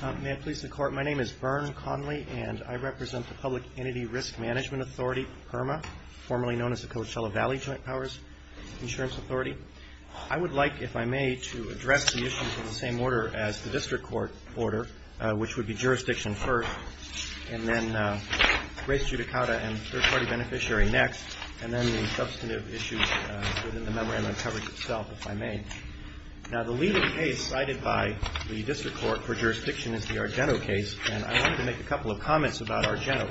My name is Bern Conley and I represent the Public Entity Risk Management Authority, PERMA, formerly known as the Coachella Valley Joint Powers Insurance Authority. I would like, if I may, to address the issues in the same order as the district court order, which would be jurisdiction first, and then race judicata and third party beneficiary next, and then the substantive issues within the memorandum coverage itself, if I may. Now, the leading case cited by the district court for jurisdiction is the Argeno case, and I wanted to make a couple of comments about Argeno.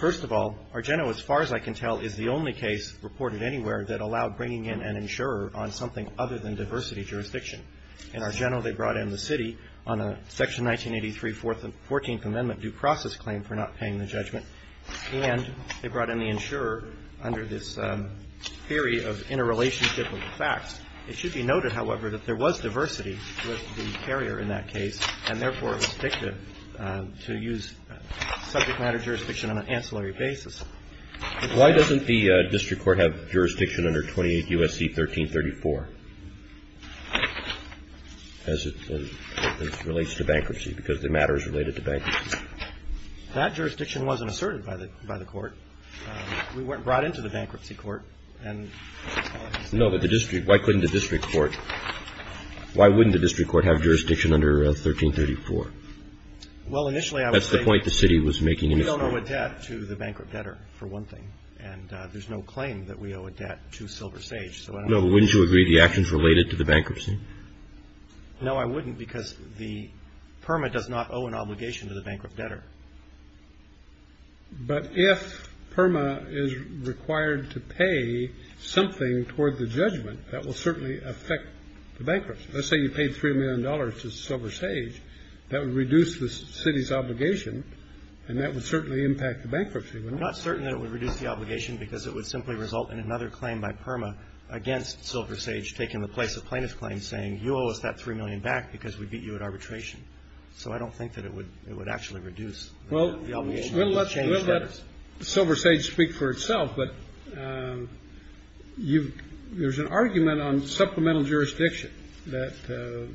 First of all, Argeno, as far as I can tell, is the only case reported anywhere that allowed bringing in an insurer on something other than diversity jurisdiction. In Argeno, they brought in the city on a Section 1983, 14th Amendment due process claim for not paying the judgment, and they brought in the insurer under this theory of interrelationship of the facts. It should be noted, however, that there was diversity with the carrier in that case, and therefore, it was dictative to use subject matter jurisdiction on an ancillary basis. Why doesn't the district court have jurisdiction under 28 U.S.C. 1334 as it relates to bankruptcy, because the matter is related to bankruptcy? That jurisdiction wasn't asserted by the court. We weren't brought into the bankruptcy court. No, but the district, why couldn't the district court, why wouldn't the district court have jurisdiction under 1334? Well, initially, I would say that we don't owe a debt to the bankrupt debtor, for one thing, and there's no claim that we owe a debt to Silver Sage, so I don't know. No, but wouldn't you agree the action's related to the bankruptcy? No, I wouldn't, because the PERMA does not owe an obligation to the bankrupt debtor. But if PERMA is required to pay something toward the judgment, that will certainly affect the bankruptcy. Let's say you paid $3 million to Silver Sage, that would reduce the city's obligation, and that would certainly impact the bankruptcy, wouldn't it? I'm not certain that it would reduce the obligation, because it would simply result in another claim by PERMA against Silver Sage taking the place of plaintiff's claim, saying, you owe us that $3 million back because we beat you at arbitration, so I don't think that it would actually reduce. Well, we'll let Silver Sage speak for itself, but there's an argument on supplemental jurisdiction that the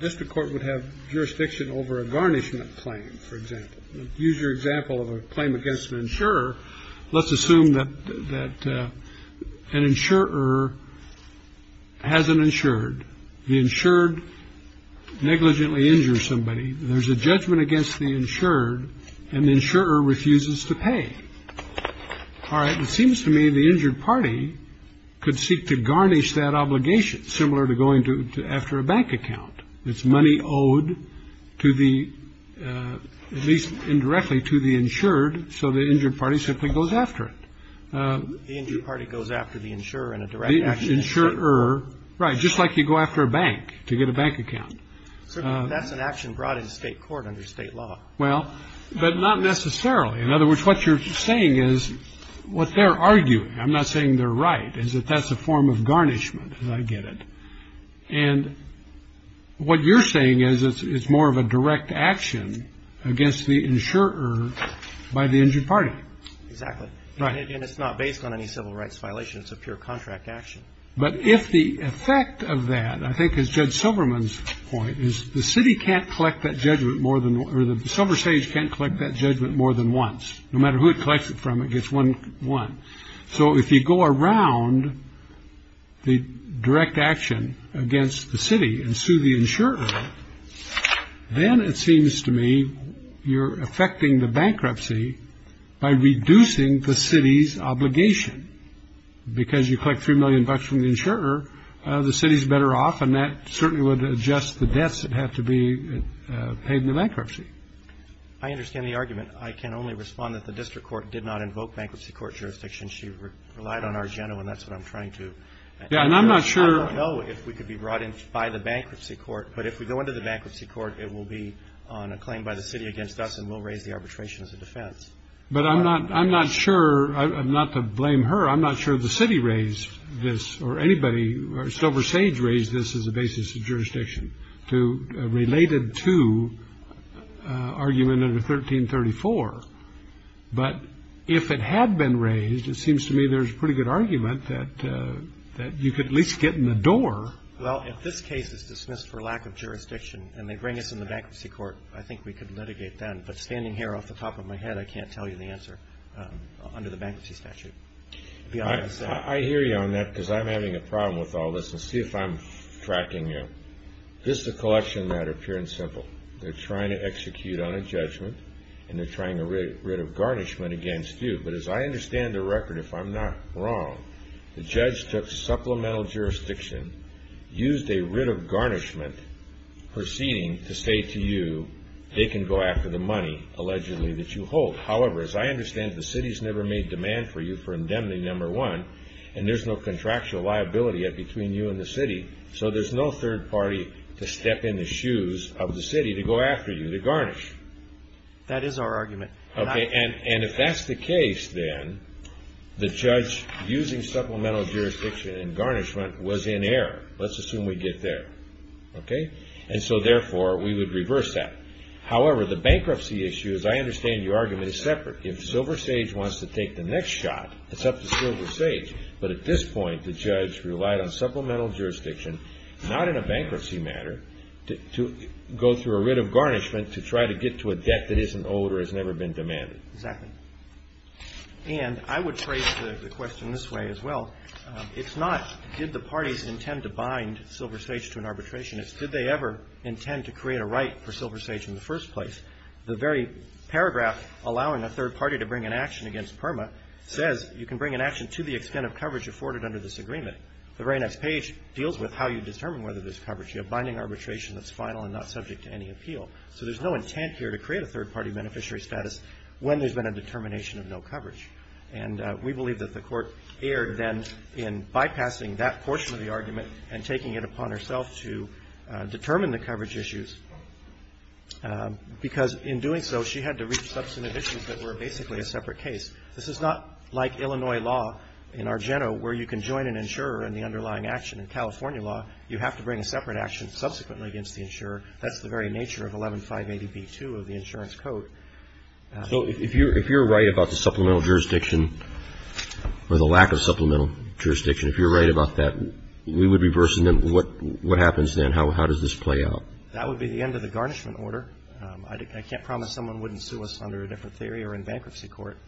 district court would have jurisdiction over a garnishment claim, for example. Use your example of a claim against an insurer. Let's assume that an insurer has an insured. The insured negligently injures somebody. There's a judgment against the insured, and the insurer refuses to pay. All right. It seems to me the injured party could seek to garnish that obligation, similar to going to after a bank account. It's money owed to the, at least indirectly, to the insured. So the injured party simply goes after it. The injured party goes after the insurer in a direct action. The insurer. Right. Just like you go after a bank to get a bank account. So that's an action brought into state court under state law. Well, but not necessarily. In other words, what you're saying is what they're arguing. I'm not saying they're right, is that that's a form of garnishment, as I get it. And what you're saying is it's more of a direct action against the insurer by the injured party. Exactly right. And it's not based on any civil rights violations of pure contract action. But if the effect of that, I think, is Judge Silverman's point is the city can't collect that judgment more than the silver stage can't collect that judgment more than once, no matter who it collects it from. It gets one one. So if you go around the direct action against the city and sue the insurer, then it seems to me you're affecting the bankruptcy by reducing the city's obligation. Because you collect three million bucks from the insurer, the city's better off. And that certainly would adjust the debts that have to be paid in the bankruptcy. I understand the argument. I can only respond that the district court did not invoke bankruptcy court jurisdiction. She relied on our general. And that's what I'm trying to. Yeah. And I'm not sure. I don't know if we could be brought in by the bankruptcy court. But if we go into the bankruptcy court, it will be on a claim by the city against us and we'll raise the arbitration as a defense. But I'm not I'm not sure I'm not to blame her. I'm not sure the city raised this or anybody. Silver Sage raised this as a basis of jurisdiction to related to argument under 1334. But if it had been raised, it seems to me there's a pretty good argument that that you could at least get in the door. Well, if this case is dismissed for lack of jurisdiction and they bring us in the bankruptcy court, I think we could litigate that. But standing here off the top of my head, I can't tell you the answer under the bankruptcy statute. I hear you on that because I'm having a problem with all this and see if I'm tracking you. This is a collection matter, pure and simple. They're trying to execute on a judgment and they're trying to rid of garnishment against you. But as I understand the record, if I'm not wrong, the judge took supplemental jurisdiction, used a writ of garnishment proceeding to say to you they can go after the money allegedly that you hold. However, as I understand, the city's never made demand for you for indemnity number one and there's no contractual liability between you and the city. So there's no third party to step in the shoes of the city to go after you to garnish. That is our argument. Okay, and if that's the case, then the judge using supplemental jurisdiction and garnishment was in error. Let's assume we get there. Okay. And so therefore, we would reverse that. However, the bankruptcy issue, as I understand your argument, is separate. If Silver Sage wants to take the next shot, it's up to Silver Sage. But at this point, the judge relied on supplemental jurisdiction, not in a bankruptcy matter, to go through a writ of garnishment to try to get to a debt that isn't owed or has never been owed. It's been demanded. Exactly. And I would trace the question this way as well. It's not did the parties intend to bind Silver Sage to an arbitration. It's did they ever intend to create a right for Silver Sage in the first place. The very paragraph allowing a third party to bring an action against PERMA says you can bring an action to the extent of coverage afforded under this agreement. The very next page deals with how you determine whether there's coverage. You have binding arbitration that's final and not subject to any appeal. So there's no intent here to create a third party beneficiary status when there's been a determination of no coverage. And we believe that the court erred then in bypassing that portion of the argument and taking it upon herself to determine the coverage issues. Because in doing so, she had to reach substantive issues that were basically a separate case. This is not like Illinois law in our general where you can join an insurer in the underlying action. In California law, you have to bring a separate action subsequently against the insurer. That's the very nature of 11-580-B-2 of the insurance code. So if you're right about the supplemental jurisdiction or the lack of supplemental jurisdiction, if you're right about that, we would be bursting them. What happens then? How does this play out? That would be the end of the garnishment order. I can't promise someone wouldn't sue us under a different theory or in bankruptcy court.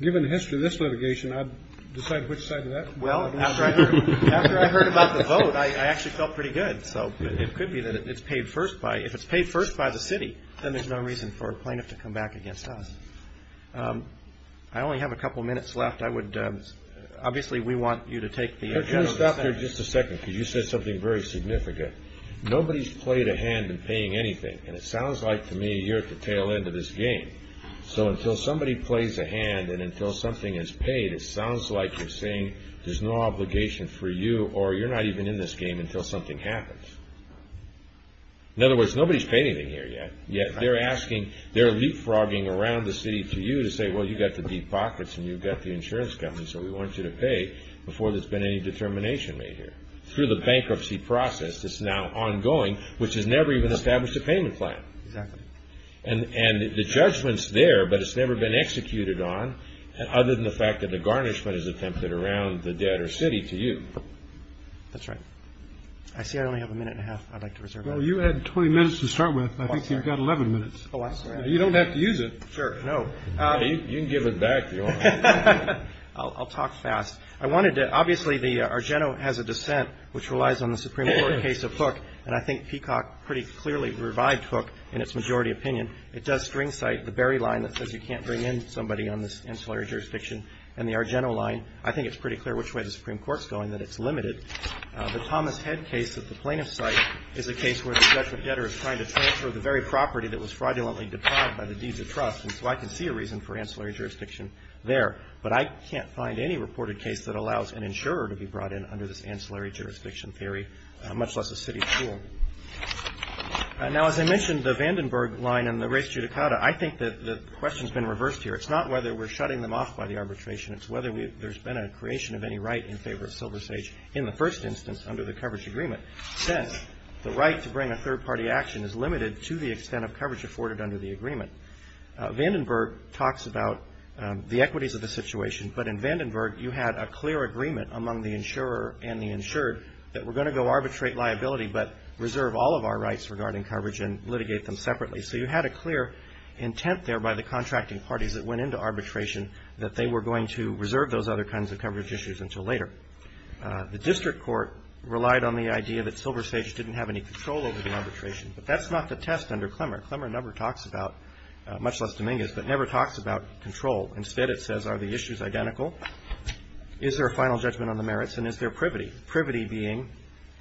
Given the history of this litigation, I'd decide which side of that. Well, after I heard about the vote, I actually felt pretty good. So it could be that it's paid first by, if it's paid first by the city, then there's no reason for a plaintiff to come back against us. I only have a couple of minutes left. I would, obviously, we want you to take the- Can I stop there just a second? Because you said something very significant. Nobody's played a hand in paying anything. And it sounds like to me you're at the tail end of this game. So until somebody plays a hand and until something is paid, it sounds like you're saying there's no obligation for you or you're not even in this game until something happens. In other words, nobody's paid anything here yet. Yet they're asking, they're leapfrogging around the city to you to say, well, you've got the deep pockets and you've got the insurance company, so we want you to pay before there's been any determination made here. Through the bankruptcy process, it's now ongoing, which has never even established a payment plan. Exactly. And the judgment's there, but it's never been executed on other than the fact that the garnishment is attempted around the debtor city to you. That's right. I see I only have a minute and a half I'd like to reserve. Well, you had 20 minutes to start with. I think you've got 11 minutes. Oh, I'm sorry. You don't have to use it. Sure. No, you can give it back. I'll talk fast. I wanted to. Obviously, the Argeno has a dissent which relies on the Supreme Court case of Hook. And I think Peacock pretty clearly revived Hook in its majority opinion. It does string cite the Berry line that says you can't bring in somebody on this insular jurisdiction and the Argeno line. I think it's pretty clear which way the Supreme Court's going, that it's limited. The Thomas Head case at the plaintiff's site is a case where the debtor is trying to transfer the very property that was fraudulently deprived by the deeds of trust. And so I can see a reason for ancillary jurisdiction there. But I can't find any reported case that allows an insurer to be brought in under this ancillary jurisdiction theory, much less a city school. Now, as I mentioned, the Vandenberg line and the race judicata, I think that the question's been reversed here. It's not whether we're shutting them off by the arbitration. It's whether there's been a creation of any right in favor of SilverSage in the first instance under the coverage agreement. Since the right to bring a third party action is limited to the extent of coverage afforded under the agreement. Vandenberg talks about the equities of the situation. But in Vandenberg, you had a clear agreement among the insurer and the insured that we're going to go arbitrate liability, but reserve all of our rights regarding coverage and litigate them separately. So you had a clear intent there by the contracting parties that went into arbitration that they were going to reserve those other kinds of coverage issues until later. The district court relied on the idea that SilverSage didn't have any control over the arbitration. But that's not the test under Clemmer. Clemmer never talks about, much less Dominguez, but never talks about control. Instead, it says, are the issues identical? Is there a final judgment on the merits? And is there privity? Privity being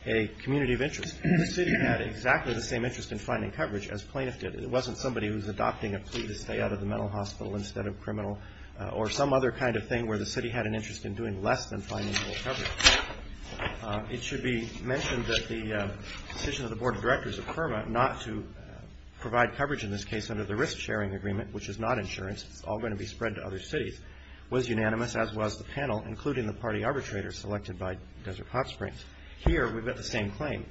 a community of interest. The city had exactly the same interest in finding coverage as plaintiff did. It wasn't somebody who was adopting a plea to stay out of the mental hospital instead of criminal or some other kind of thing where the city had an interest in doing less than finding more coverage. It should be mentioned that the decision of the board of directors of CURMA not to provide coverage in this case under the risk sharing agreement, which is not insurance, it's all going to be spread to other cities, was unanimous, as was the panel, including the party arbitrator selected by Desert Hot Springs. Here, we've got the same claim.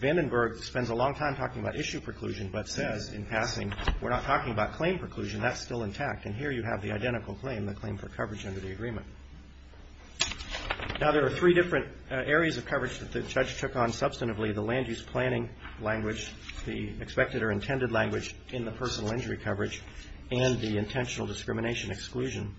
Vandenberg spends a long time talking about issue preclusion, but says in passing, we're not talking about claim preclusion, that's still intact. And here you have the identical claim, the claim for coverage under the agreement. Now, there are three different areas of coverage that the judge took on substantively, the land use planning language, the expected or intended language in the personal injury coverage, and the intentional discrimination exclusion.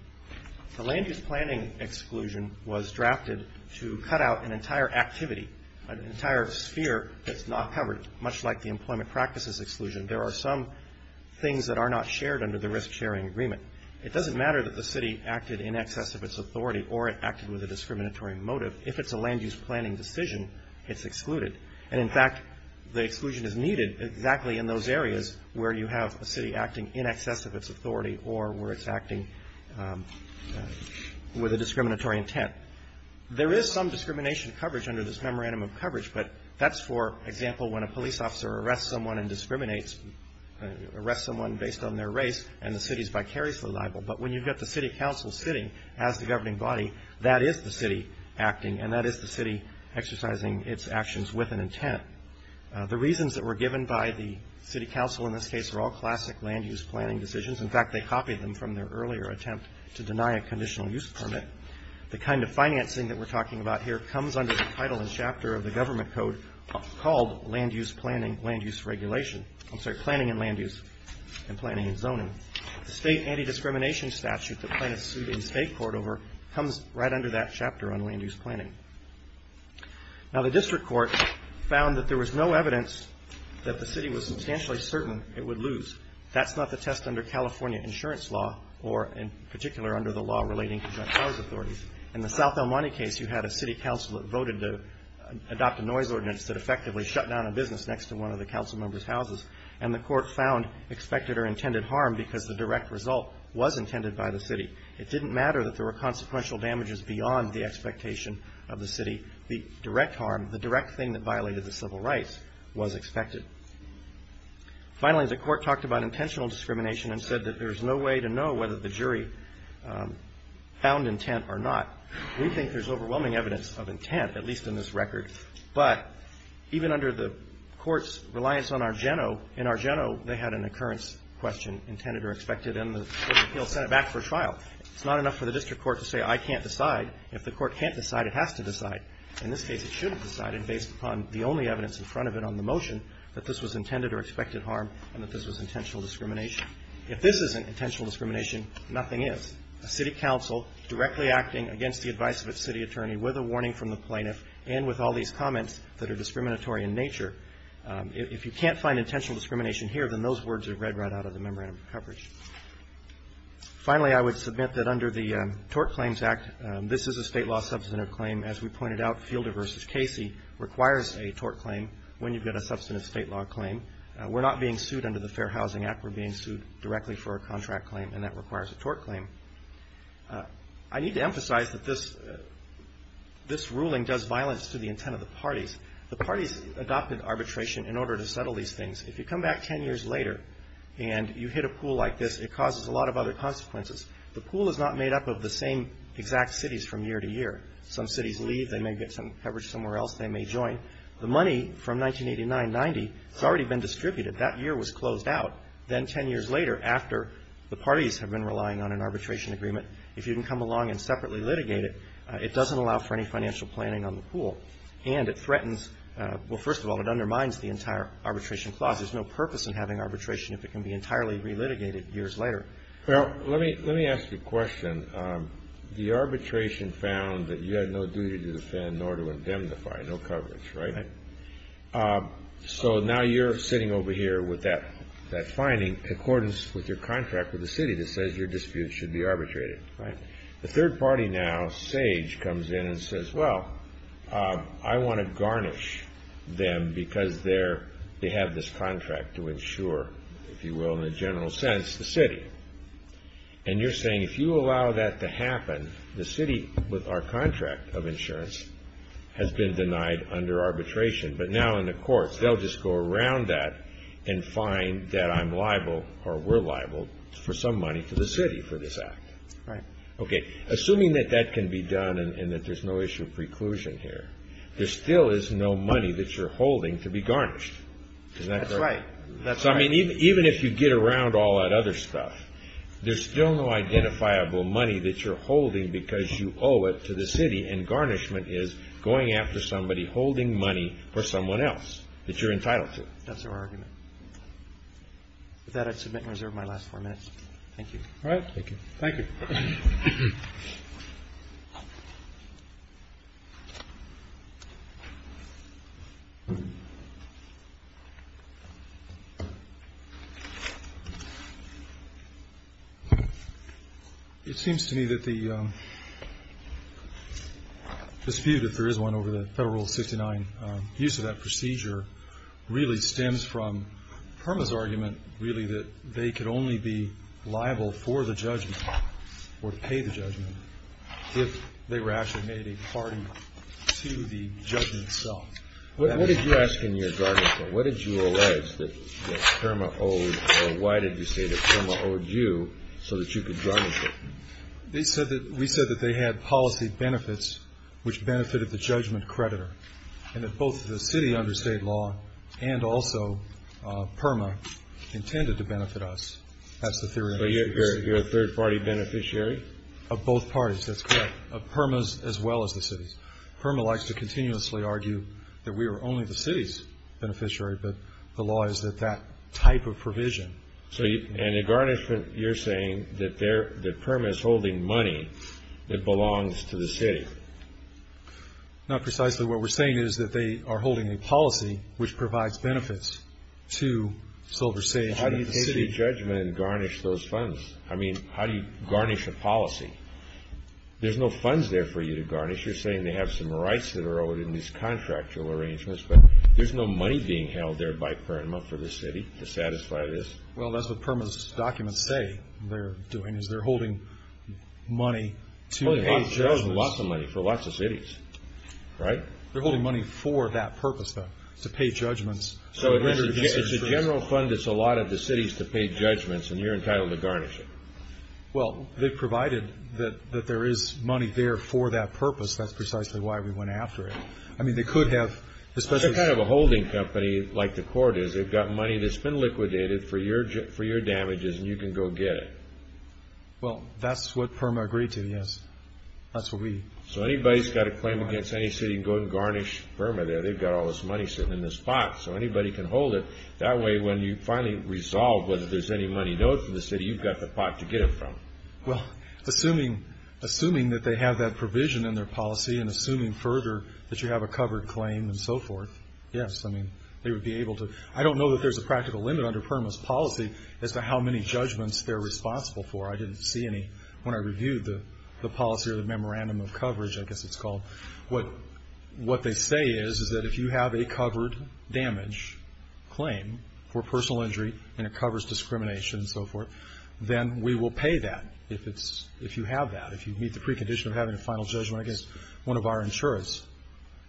The land use planning exclusion was drafted to cut out an entire activity, an entire sphere that's not covered, much like the employment practices exclusion. There are some things that are not shared under the risk sharing agreement. It doesn't matter that the city acted in excess of its authority or it acted with a discriminatory motive. If it's a land use planning decision, it's excluded. And in fact, the exclusion is needed exactly in those areas where you have a city acting in excess of its authority or where it's acting with a discriminatory intent. There is some discrimination coverage under this memorandum of coverage, but that's, for example, when a police officer arrests someone and discriminates, arrests someone based on their race, and the city's vicariously liable. But when you've got the city council sitting as the governing body, that is the city acting, The reasons that were given by the city council in this case are all classic land use planning decisions. In fact, they copied them from their earlier attempt to deny a conditional use permit. The kind of financing that we're talking about here comes under the title and chapter of the government code called land use planning, land use regulation. I'm sorry, planning and land use and planning and zoning. The state anti-discrimination statute that plaintiffs sued a state court over comes right under that chapter on land use planning. Now, the district court found that there was no evidence that the city was substantially certain it would lose. That's not the test under California insurance law or in particular under the law relating to joint powers authorities. In the South El Monte case, you had a city council that voted to adopt a noise ordinance that effectively shut down a business next to one of the council members' houses, and the court found expected or intended harm because the direct result was intended by the city. It didn't matter that there were consequential damages beyond the expectation of the city. The direct harm, the direct thing that violated the civil rights was expected. Finally, the court talked about intentional discrimination and said that there's no way to know whether the jury found intent or not. We think there's overwhelming evidence of intent, at least in this record, but even under the court's reliance on Argeno, it's not enough for the district court to say I can't decide. If the court can't decide, it has to decide. In this case, it should have decided based upon the only evidence in front of it on the motion that this was intended or expected harm and that this was intentional discrimination. If this isn't intentional discrimination, nothing is. A city council directly acting against the advice of its city attorney with a warning from the plaintiff and with all these comments that are discriminatory in nature. If you can't find intentional discrimination here, then those words are read right out of the memorandum of coverage. Finally, I would submit that under the Tort Claims Act, this is a state law substantive claim. As we pointed out, Fielder v. Casey requires a tort claim when you get a substantive state law claim. We're not being sued under the Fair Housing Act. We're being sued directly for a contract claim, and that requires a tort claim. I need to emphasize that this ruling does violence to the intent of the parties. The parties adopted arbitration in order to settle these things. If you come back 10 years later and you hit a pool like this, it causes a lot of other consequences. The pool is not made up of the same exact cities from year to year. Some cities leave. They may get some coverage somewhere else. They may join. The money from 1989-90 has already been distributed. That year was closed out. Then 10 years later, after the parties have been relying on an arbitration agreement, if you can come along and separately litigate it, it doesn't allow for any financial planning on the pool. And it threatens, well, first of all, it undermines the entire arbitration clause. There's no purpose in having arbitration if it can be entirely relitigated years later. Well, let me ask you a question. The arbitration found that you had no duty to defend nor to indemnify, no coverage, right? Right. So now you're sitting over here with that finding in accordance with your contract with the city that says your dispute should be arbitrated, right? The third party now, Sage, comes in and says, well, I want to garnish them because they have this contract to insure, if you will, in a general sense, the city. And you're saying if you allow that to happen, the city with our contract of insurance has been denied under arbitration. But now in the courts, they'll just go around that and find that I'm liable or we're liable for some money to the city for this act. Right. Okay. Assuming that that can be done and that there's no issue of preclusion here, there still is no money that you're holding to be garnished. Isn't that correct? That's right. That's right. Even if you get around all that other stuff, there's still no identifiable money that you're holding because you owe it to the city, and garnishment is going after somebody holding money for someone else that you're entitled to. That's our argument. With that, I submit and reserve my last four minutes. Thank you. All right. Thank you. Thank you. It seems to me that the dispute, if there is one, over the Federal Rule 69, use of that procedure really stems from PERMA's argument, really, that they could only be liable for the judgment or pay the judgment if they were actually made a party to the judgment itself. What did you ask in your garnishment? What did you allege that PERMA owed, or why did you say that PERMA owed you so that you could garnish it? We said that they had policy benefits which benefited the judgment creditor, and that both the city under state law and also PERMA intended to benefit us. That's the theory. So you're a third-party beneficiary? Of both parties. That's correct. Of PERMA's as well as the city's. PERMA likes to continuously argue that we are only the city's beneficiary, but the law is that that type of provision. So, and in garnishment, you're saying that PERMA is holding money that belongs to the city? Not precisely. What we're saying is that they are holding a policy which provides benefits to Silver Sage. How do you pay the judgment and garnish those funds? I mean, how do you garnish a policy? There's no funds there for you to garnish. You're saying they have some rights that are owed in these contractual arrangements, but there's no money being held there by PERMA for the city to satisfy this? Well, that's what PERMA's documents say they're doing, is they're holding money to pay judgment. Which owes them lots of money for lots of cities, right? They're holding money for that purpose, though, to pay judgments. So it's a general fund that's allotted to cities to pay judgments, and you're entitled to garnish it. Well, they've provided that there is money there for that purpose. That's precisely why we went after it. I mean, they could have, especially... It's kind of a holding company, like the court is. They've got money that's been liquidated for your damages, and you can go get it. Well, that's what PERMA agreed to, yes. That's what we... So anybody who's got a claim against any city can go and garnish PERMA there. They've got all this money sitting in this pot, so anybody can hold it. That way, when you finally resolve whether there's any money owed to the city, you've got the pot to get it from. Well, assuming that they have that provision in their policy and assuming further that you have a covered claim and so forth, yes. I mean, they would be able to... I don't know that there's a practical limit under PERMA's policy as to how many judgments they're responsible for. I didn't see any when I reviewed the policy or the memorandum of coverage, I guess it's called. What they say is, is that if you have a covered damage claim for personal injury and it covers discrimination and so forth, then we will pay that if you have that, if you meet the precondition of having a final judgment against one of our insurers.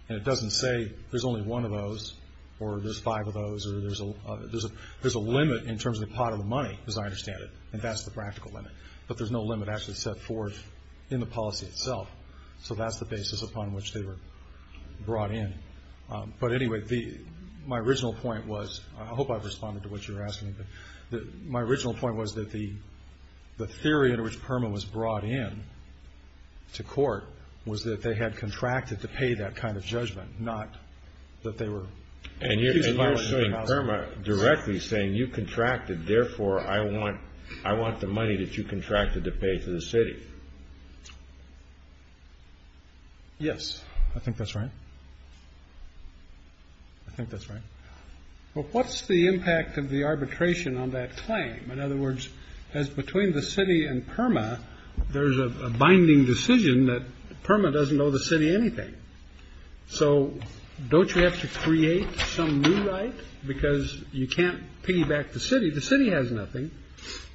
And it doesn't say there's only one of those or there's five of those or there's a limit in terms of the pot of the money, as I understand it, and that's the practical limit. But there's no limit actually set forth in the policy itself. So that's the basis upon which they were brought in. But anyway, my original point was, I hope I've responded to what you're asking, but my original point was that the theory under which PERMA was brought in to court was that they had contracted to pay that kind of judgment, not that they were... And you're saying PERMA directly saying you contracted, therefore, I want the money that you contracted to pay to the city. Yes, I think that's right. I think that's right. Well, what's the impact of the arbitration on that claim? In other words, as between the city and PERMA, there's a binding decision that PERMA doesn't owe the city anything. So don't you have to create some new right? Because you can't piggyback the city. The city has nothing.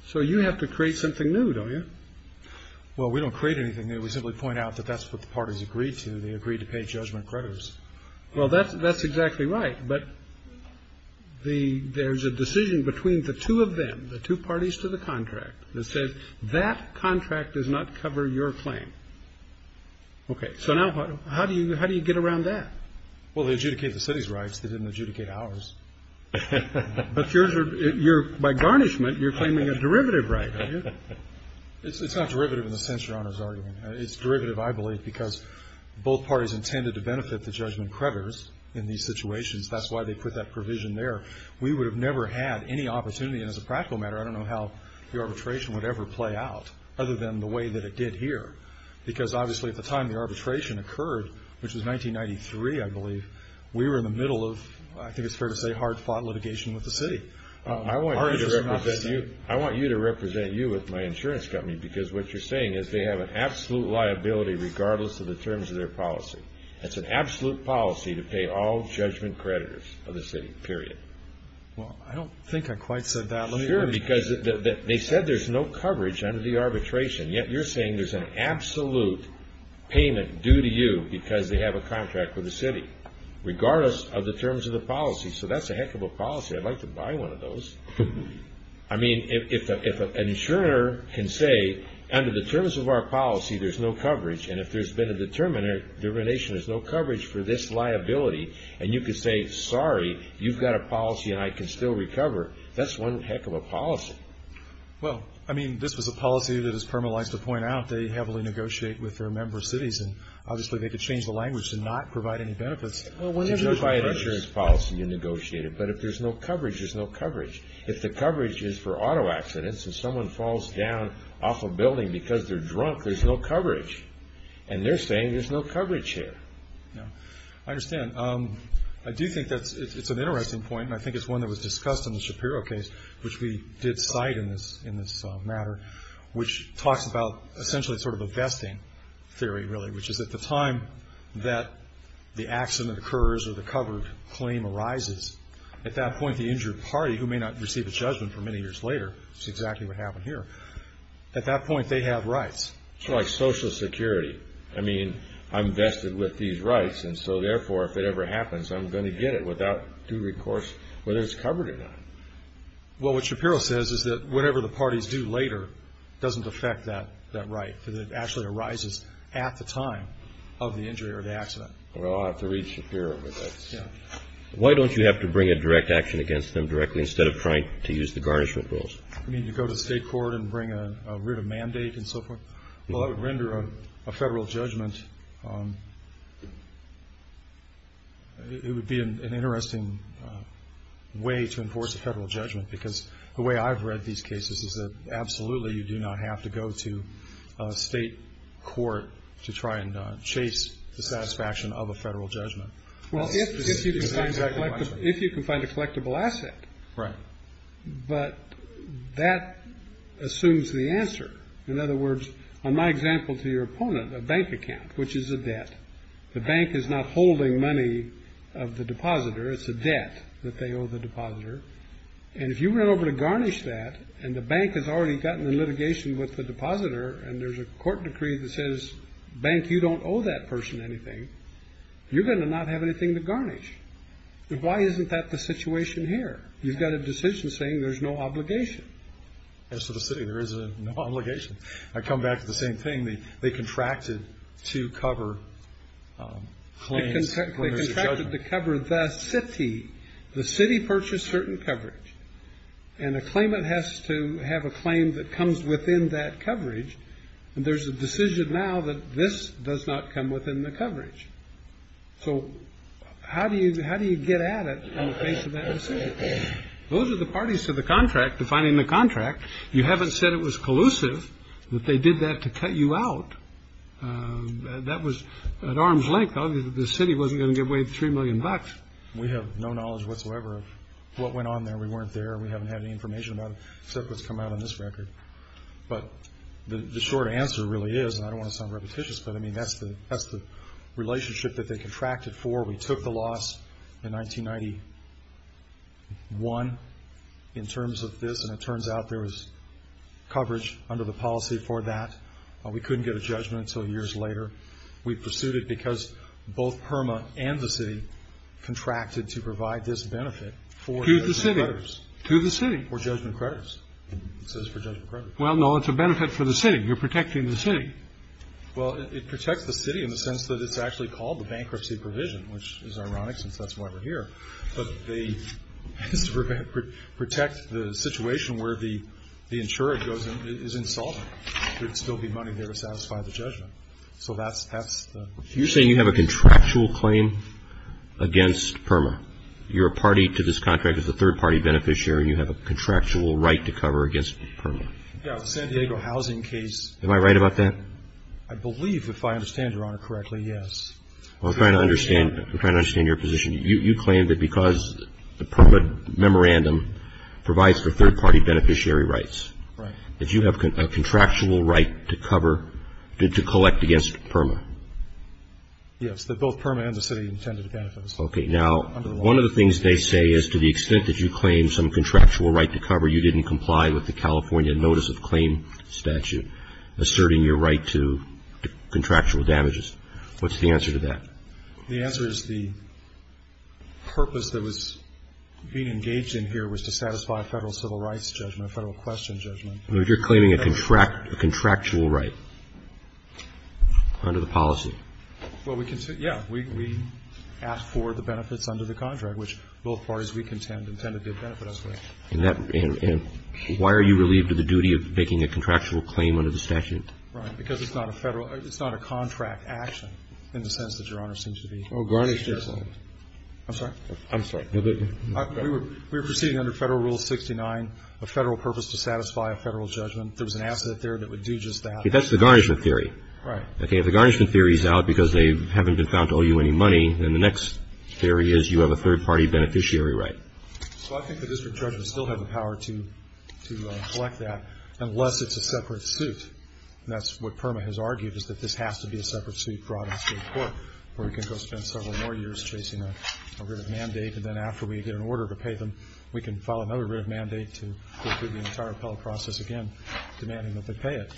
So you have to create something new, don't you? Well, we don't create anything new. We simply point out that that's what the parties agreed to. They agreed to pay judgment creditors. Well, that's exactly right. But there's a decision between the two of them, the two parties to the contract that says that contract does not cover your claim. Okay, so now how do you get around that? Well, they adjudicate the city's rights. They didn't adjudicate ours. But by garnishment, you're claiming a derivative right, aren't you? It's not derivative in the sense Your Honor is arguing. It's derivative, I believe, because both parties intended to benefit the judgment creditors in these situations. That's why they put that provision there. We would have never had any opportunity. And as a practical matter, I don't know how the arbitration would ever play out other than the way that it did here. Because obviously at the time the arbitration occurred, which was 1993, I believe, we were in the middle of, I think it's fair to say, hard-fought litigation with the city. I want you to represent you with my insurance company because what you're saying is they have an absolute liability regardless of the terms of their policy. It's an absolute policy to pay all judgment creditors of the city, period. Well, I don't think I quite said that. Sure, because they said there's no coverage under the arbitration. Yet you're saying there's an absolute payment due to you because they have a contract with the city, regardless of the terms of the policy. So that's a heck of a policy. I'd like to buy one of those. I mean, if an insurer can say, under the terms of our policy, there's no coverage, and if there's been a determination there's no coverage for this liability, and you can say, sorry, you've got a policy and I can still recover, that's one heck of a policy. Well, I mean, this was a policy that, as Perma likes to point out, they heavily negotiate with their member cities, and obviously they could change the language to not provide any benefits. Well, whenever you buy an insurance policy, you negotiate it. But if there's no coverage, there's no coverage. If the coverage is for auto accidents and someone falls down off a building because they're drunk, there's no coverage. And they're saying there's no coverage here. Yeah, I understand. I do think it's an interesting point, and I think it's one that was discussed in the Shapiro case, which we did cite in this matter, which talks about essentially sort of a vesting theory, really, which is at the time that the accident occurs or the covered claim arises, at that point the injured party, who may not receive a judgment for many years later, which is exactly what happened here, at that point they have rights. It's like Social Security. I mean, I'm vested with these rights, and so therefore, if it ever happens, I'm going to get it without due recourse, whether it's covered or not. Well, what Shapiro says is that whatever the parties do later doesn't affect that right. It actually arises at the time of the injury or the accident. Well, I'll have to read Shapiro with this. Yeah. Why don't you have to bring a direct action against them directly instead of trying to use the garnishment rules? You mean to go to state court and bring a written mandate and so forth? Well, it would render a federal judgment, it would be an interesting way to enforce a federal judgment because the way I've read these cases is that absolutely you do not have to go to state court to try and chase the satisfaction of a federal judgment. Well, if you can find a collectible asset. Right. But that assumes the answer. In other words, on my example to your opponent, a bank account, which is a debt. The bank is not holding money of the depositor. It's a debt that they owe the depositor. And if you run over to garnish that, and the bank has already gotten the litigation with the depositor, and there's a court decree that says, bank you don't owe that person anything, you're going to not have anything to garnish. Why isn't that the situation here? You've got a decision saying there's no obligation. As for the city, there is an obligation. I come back to the same thing. They contracted to cover claims when there's a judgment. They contracted to cover the city. The city purchased certain coverage. And a claimant has to have a claim that comes within that coverage. And there's a decision now that this does not come within the coverage. So how do you get at it in the face of that decision? Those are the parties to the contract, defining the contract. You haven't said it was collusive, that they did that to cut you out. That was at arm's length. Obviously, the city wasn't going to give away the $3 million. We have no knowledge whatsoever of what went on there. We weren't there. We haven't had any information about it, except what's come out on this record. But the short answer really is, and I don't want to sound repetitious, but I mean, that's the relationship that they contracted for. We took the loss in 1991 in terms of this. And it turns out there was coverage under the policy for that. We couldn't get a judgment until years later. We pursued it because both PERMA and the city contracted to provide this benefit for judgment creditors. To the city? For judgment creditors. It says for judgment creditors. Well, no, it's a benefit for the city. You're protecting the city. Well, it protects the city in the sense that it's actually called the bankruptcy provision, which is ironic since that's why we're here. But they protect the situation where the insurer is insolvent. There'd still be money there to satisfy the judgment. So that's the situation. You're saying you have a contractual claim against PERMA? You're a party to this contract as a third-party beneficiary, and you have a contractual right to cover against PERMA? Yeah, the San Diego housing case. Am I right about that? I believe, if I understand Your Honor correctly, yes. I'm trying to understand your position. You claim that because the PERMA memorandum provides for third-party beneficiary rights, that you have a contractual right to cover, to collect against PERMA? Yes, that both PERMA and the city intended benefits. Okay. Now, one of the things they say is to the extent that you claim some contractual right to cover, you didn't comply with the California notice of claim statute asserting your right to contractual damages. What's the answer to that? The answer is the purpose that was being engaged in here was to satisfy a federal civil rights judgment, a federal question judgment. If you're claiming a contractual right under the policy? Well, yeah, we ask for the benefits under the contract, which both parties we contend intended to benefit us with. And why are you relieved of the duty of making a contractual claim under the statute? Right. Because it's not a federal, it's not a contract action in the sense that Your Honor seems to be. Oh, garnishment. I'm sorry? I'm sorry. We were proceeding under Federal Rule 69, a federal purpose to satisfy a federal judgment. There was an asset there that would do just that. That's the garnishment theory. Right. Okay. If the garnishment theory is out because they haven't been found to owe you any money, then the next theory is you have a third-party beneficiary right. So I think the district judge would still have the power to collect that unless it's a separate suit. And that's what PERMA has argued is that this has to be a separate suit brought in state court where we can go spend several more years chasing a writ of mandate. And then after we get an order to pay them, we can file another writ of mandate to go through the entire appellate process again, demanding that they pay it.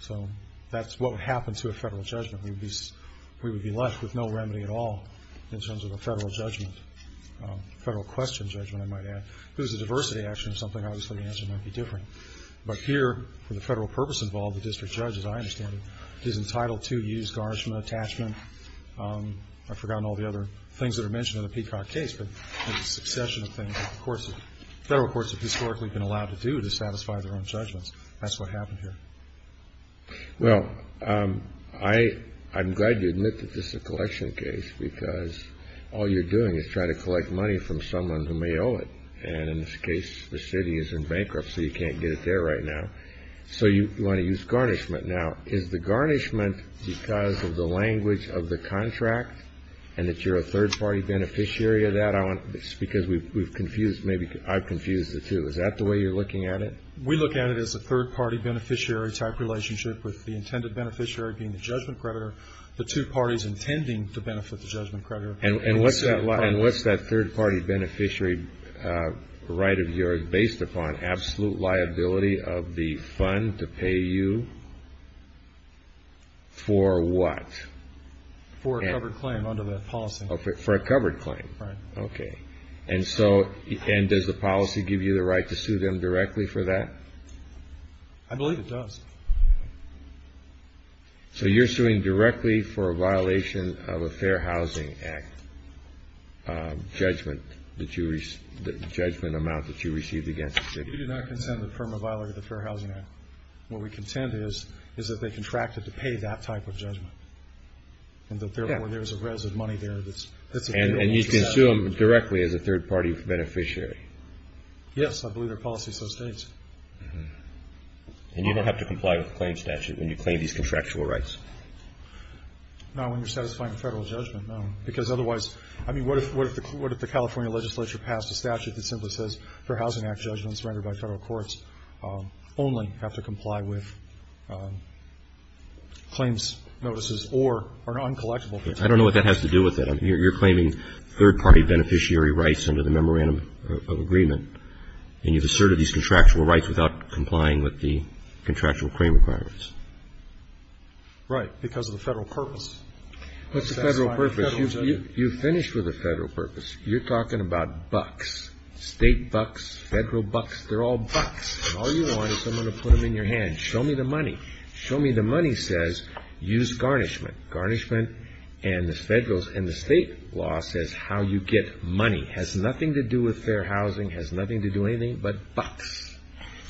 So that's what would happen to a federal judgment. We would be left with no remedy at all in terms of a federal judgment, federal question judgment, I might add. If it was a diversity action or something, obviously the answer might be different. But here, for the federal purpose involved, the district judge, as I understand it, is entitled to use garnishment attachment. I've forgotten all the other things that are mentioned in the Peacock case. But there's a succession of things that the federal courts have historically been allowed to do to satisfy their own judgments. That's what happened here. Well, I'm glad you admit that this is a collection case because all you're doing is trying to collect money from someone who may owe it. And in this case, the city is in bankruptcy. You can't get it there right now. So you want to use garnishment. Now, is the garnishment because of the language of the contract and that you're a third party beneficiary of that? I want, because we've confused, maybe I've confused the two. Is that the way you're looking at it? We look at it as a third party beneficiary type relationship with the intended beneficiary being the judgment creditor. The two parties intending to benefit the judgment creditor. And what's that third party beneficiary right of yours based upon? Absolute liability of the fund to pay you for what? For a covered claim under the policy. For a covered claim. Right. Okay. And so, and does the policy give you the right to sue them directly for that? I believe it does. So you're suing directly for a violation of a fair housing act. Judgment that you, the judgment amount that you received against the city. We do not contend with the perma viola of the fair housing act. What we contend is, is that they contracted to pay that type of judgment. And that therefore there's a residue of money there that's. And you can sue them directly as a third party beneficiary. Yes, I believe their policy so states. And you don't have to comply with the claim statute when you claim these contractual rights? Not when you're satisfying a federal judgment, no. Because otherwise, I mean, what if the California legislature passed a statute that simply says, fair housing act judgments rendered by federal courts only have to comply with claims notices or are not collectible. I don't know what that has to do with it. You're claiming third party beneficiary rights under the memorandum of agreement. And you've asserted these contractual rights without complying with the contractual claim requirements. Right, because of the federal purpose. What's the federal purpose? You've finished with the federal purpose. You're talking about bucks, state bucks, federal bucks. They're all bucks. All you want is someone to put them in your hand. Show me the money. Show me the money says, use garnishment. Garnishment and the federal and the state law says how you get money has nothing to do with fair housing, has nothing to do with anything but bucks.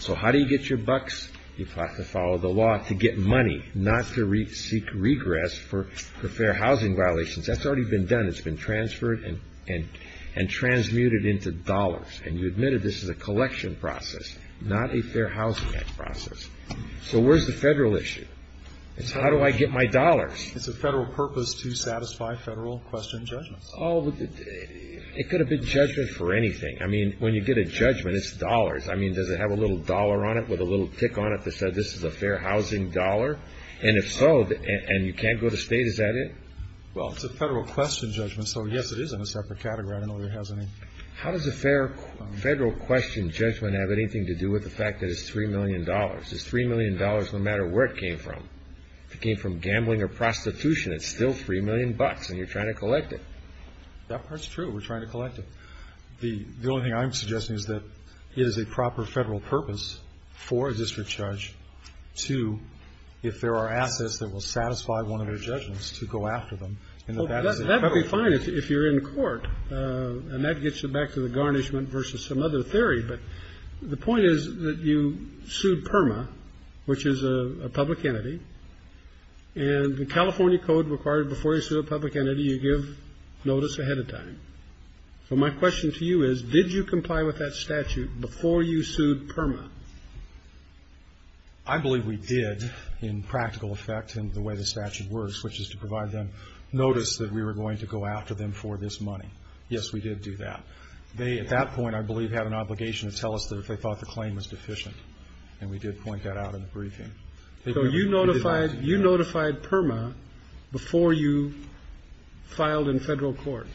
So how do you get your bucks? You have to follow the law to get money, not to seek regress for fair housing violations. That's already been done. It's been transferred and transmuted into dollars. And you admitted this is a collection process, not a fair housing act process. So where's the federal issue? It's how do I get my dollars? It's a federal purpose to satisfy federal question judgments. Oh, it could have been judgment for anything. I mean, when you get a judgment, it's dollars. I mean, does it have a little dollar on it with a little tick on it that says this is a fair housing dollar? And if so, and you can't go to state, is that it? Well, it's a federal question judgment. So, yes, it is in a separate category. I don't know if it has any. How does a fair federal question judgment have anything to do with the fact that it's $3 million? It's $3 million no matter where it came from. If it came from gambling or prostitution, it's still $3 million and you're trying to collect it. That part's true. We're trying to collect it. The only thing I'm suggesting is that it is a proper federal purpose for a district judge to, if there are assets that will satisfy one of their judgments, to go after them. That would be fine if you're in court, and that gets you back to the garnishment versus some other theory. But the point is that you sued PERMA, which is a public entity. And the California code required before you sue a public entity, you give notice ahead of time. So my question to you is, did you comply with that statute before you sued PERMA? I believe we did, in practical effect and the way the statute works, which is to provide them notice that we were going to go after them for this money. Yes, we did do that. They, at that point, I believe, had an obligation to tell us that if they thought the claim was deficient. And we did point that out in the briefing. So you notified PERMA before you filed in federal court?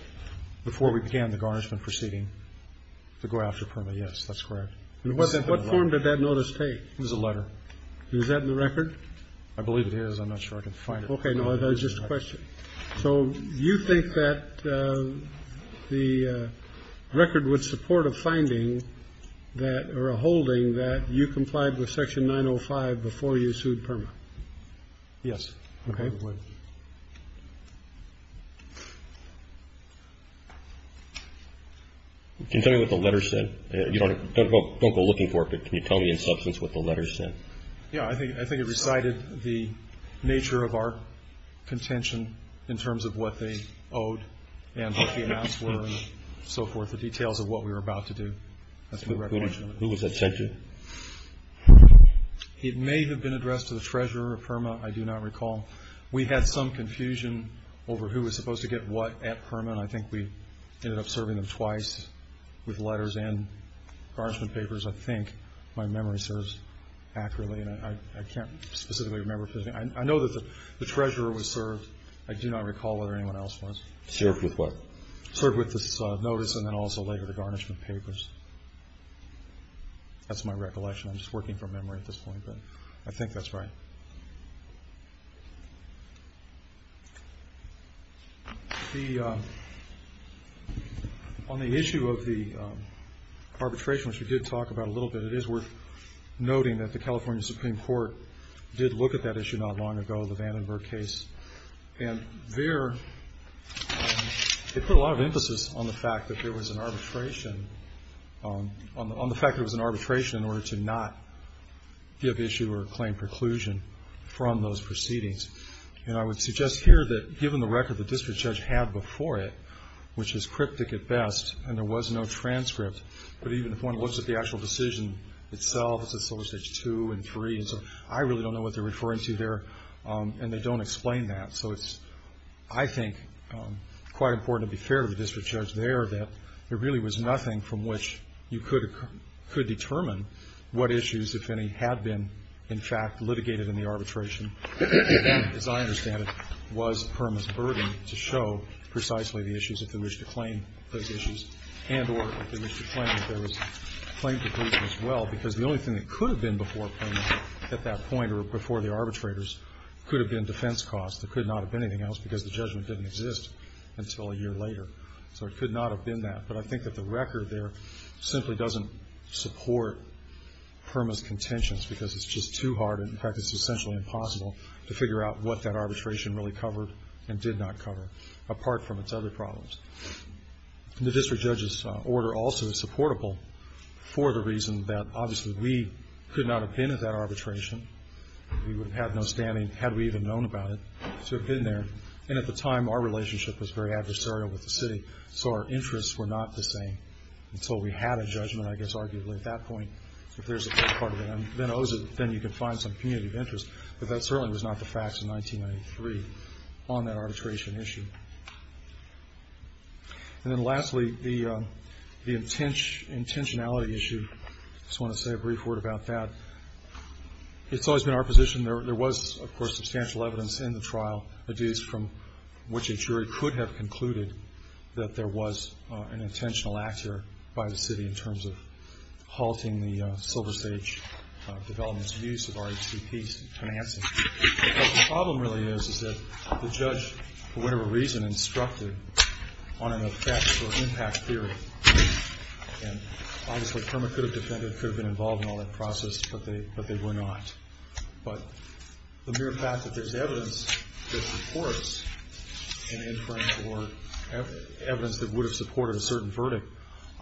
Before we began the garnishment proceeding to go after PERMA, yes, that's correct. And what form did that notice take? It was a letter. Is that in the record? I believe it is. I'm not sure I can find it. OK, no, that's just a question. So you think that the record would support a finding that, or a holding, that you complied with Section 905 before you sued PERMA? Yes. OK. Can you tell me what the letter said? Don't go looking for it, but can you tell me in substance what the letter said? Yeah, I think it recited the nature of our contention in terms of what they owed and what the amounts were and so forth, the details of what we were about to do. That's my recognition of it. Who was that subject? It may have been addressed to the treasurer of PERMA. I do not recall. We had some confusion over who was supposed to get what at PERMA, and I think we ended up serving them twice with letters and garnishment papers, I think. My memory serves accurately, and I can't specifically remember. I know that the treasurer was served. I do not recall whether anyone else was. Served with what? Served with this notice, and then also later the garnishment papers. That's my recollection. I'm just working from memory at this point, but I think that's right. On the issue of the arbitration, which we did talk about a little bit, it is worth noting that the California Supreme Court did look at that issue not long ago, the Vandenberg case. And there, they put a lot of emphasis on the fact that there was an arbitration, on the fact that it was an arbitration in order to not give issue or claim preclusion from those proceedings. And I would suggest here that, given the record the district judge had before it, which is cryptic at best, and there was no transcript, but even if one looks at the actual decision itself, it's at Solicitage 2 and 3, and so I really don't know what they're referring to there, and they don't explain that. So it's, I think, quite important to be fair to the district judge there, that there really was nothing from which you could determine what issues, if any, had been, in fact, litigated in the arbitration, and as I understand it, was Perma's burden to show precisely the issues if they wished to claim those issues, and or if they wished to claim that there was claim preclusion as well, because the only thing that could have been before Perma at that point or before the arbitrators could have been defense costs. There could not have been anything else, because the judgment didn't exist until a year later. So it could not have been that, but I think that the record there simply doesn't support Perma's contentions, because it's just too hard, and, in fact, it's essentially impossible to figure out what that arbitration really covered and did not cover, apart from its other problems. The district judge's order also is supportable for the reason that, obviously, we could not have been at that arbitration. We would have had no standing, had we even known about it, to have been there. And at the time, our relationship was very adversarial with the city, so our interests were not the same, until we had a judgment, I guess, arguably, at that point. If there's a fair part of it, then you can find some community of interest, but that certainly was not the facts in 1993 on that arbitration issue. And then, lastly, the intentionality issue. I just want to say a brief word about that. It's always been our position, there was, of course, substantial evidence in the trial, adduced from which a jury could have concluded that there was an intentional act here by the city in terms of halting the SilverStage development's use of RHCP's financing. But the problem really is, is that the judge, for whatever reason, instructed on an effect or impact theory, and obviously, Kermit could have defended, could have been involved in all that process, but they were not. But the mere fact that there's evidence that supports an inference, or evidence that would have supported a certain verdict,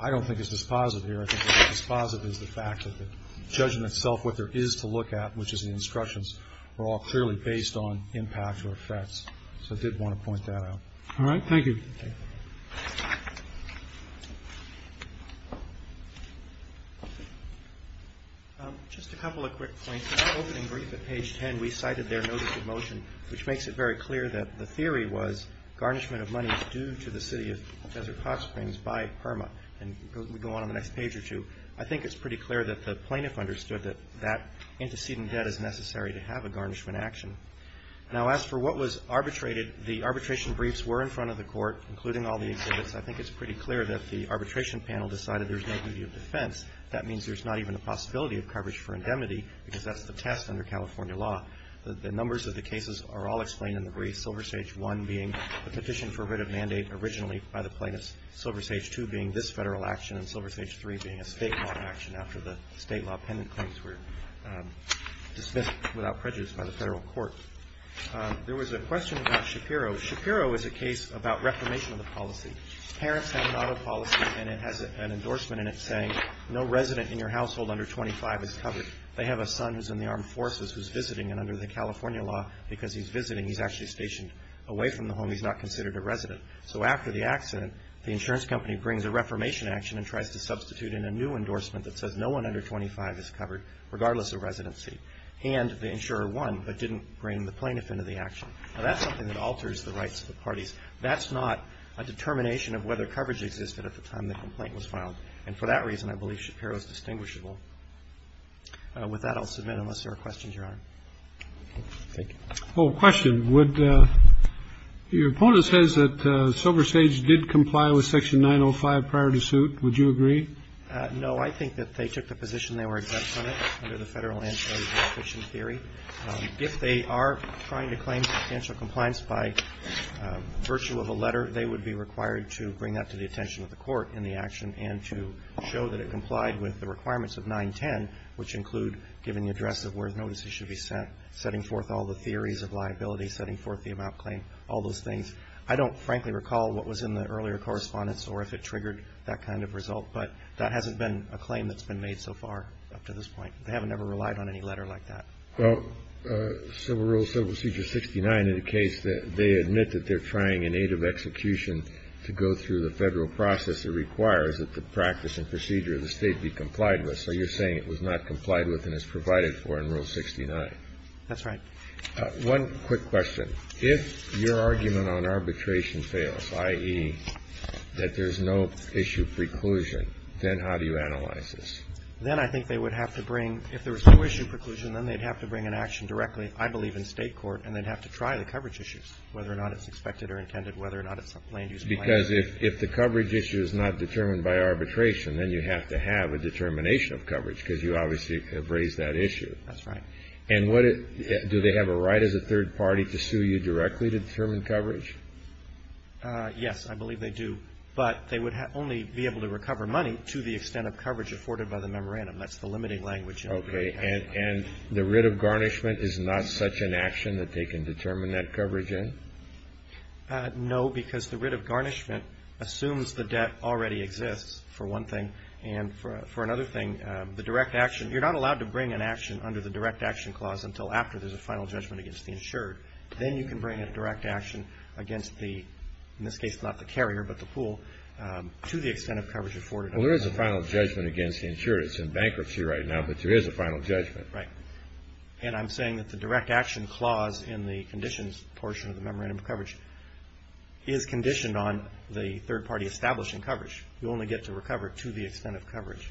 I don't think is dispositive here. I think what's dispositive is the fact that the judgment itself, what there is to look at, which is the instructions, are all clearly based on impact or effects. So I did want to point that out. All right, thank you. Just a couple of quick points. In the opening brief at page 10, we cited their notice of motion, which makes it very clear that the theory was garnishment of money due to the city of Desert Hot Springs by PERMA. And we go on to the next page or two. I think it's pretty clear that the plaintiff understood that that antecedent debt is necessary to have a garnishment action. Now, as for what was arbitrated, the arbitration briefs were in front of the court, including all the exhibits. I think it's pretty clear that the arbitration panel decided there's no duty of defense. That means there's not even a possibility of coverage for indemnity, because that's the test under California law. The numbers of the cases are all explained in the brief, Silver Sage 1 being a petition for writ of mandate originally by the plaintiffs, Silver Sage 2 being this federal action, and Silver Sage 3 being a state law action after the state law appendant claims were dismissed without prejudice by the federal court. There was a question about Shapiro. Shapiro is a case about reformation of the policy. Parents have an auto policy, and it has an endorsement in it saying, no resident in your household under 25 is covered. They have a son who's in the armed forces who's visiting, and under the California law, because he's visiting, he's actually stationed away from the home. He's not considered a resident. So after the accident, the insurance company brings a reformation action and tries to substitute in a new endorsement that says, no one under 25 is covered, regardless of residency. And the insurer won, but didn't bring the plaintiff into the action. Now, that's something that alters the rights of the parties. That's not a determination of whether coverage existed at the time the complaint was filed. And for that reason, I believe Shapiro is distinguishable. With that, I'll submit, unless there are questions, Your Honor. Thank you. Well, question. Would your opponent says that Silver Sage did comply with Section 905 prior to suit? Would you agree? No, I think that they took the position they were exempt from it under the Federal Anti-Defamation Theory. If they are trying to claim confidential compliance by virtue of a letter, they would be required to bring that to the attention of the court in the action and to show that it complied with the requirements of 910, which include giving the address of where the notices should be sent, setting forth all the theories of liability, setting forth the amount claimed, all those things. I don't frankly recall what was in the earlier correspondence or if it triggered that kind of result. But that hasn't been a claim that's been made so far up to this point. They haven't ever relied on any letter like that. Well, Civil Rule, Civil Procedure 69 in the case, they admit that they're trying in aid of execution to go through the Federal process that requires that the practice and procedure of the state be complied with. So you're saying it was not complied with and is provided for in Rule 69? That's right. One quick question. If your argument on arbitration fails, i.e., that there's no issue preclusion, then how do you analyze this? Then I think they would have to bring, if there was no issue preclusion, then they'd have to bring an action directly, I believe, in state court, and they'd have to try the coverage issues, whether or not it's expected or intended, whether or not it's a plain use claim. Because if the coverage issue is not determined by arbitration, then you have to have a determination of coverage, because you obviously have raised that issue. That's right. And what do they have a right as a third party to sue you directly to determine coverage? Yes, I believe they do. But they would only be able to recover money to the extent of coverage afforded by the memorandum. That's the limiting language. Okay. And the writ of garnishment is not such an action that they can determine that coverage in? No, because the writ of garnishment assumes the debt already exists, for one thing. And for another thing, the direct action, you're not allowed to bring an action under the direct action clause until after there's a final judgment against the insured. Then you can bring a direct action against the, in this case, not the carrier, but the pool, to the extent of coverage afforded. Well, there is a final judgment against the insured. It's in bankruptcy right now, but there is a final judgment. Right. And I'm saying that the direct action clause in the conditions portion of the memorandum of coverage is conditioned on the third party establishing coverage. You only get to recover to the extent of coverage.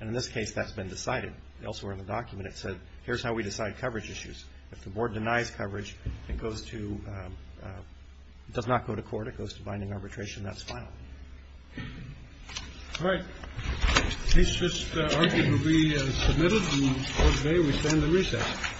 And in this case, that's been decided. Elsewhere in the document, it said, here's how we decide coverage issues. If the board denies coverage, it goes to, it does not go to court. It goes to binding arbitration. That's final. All right. Case just argued will be submitted. And for today, we stand to recess.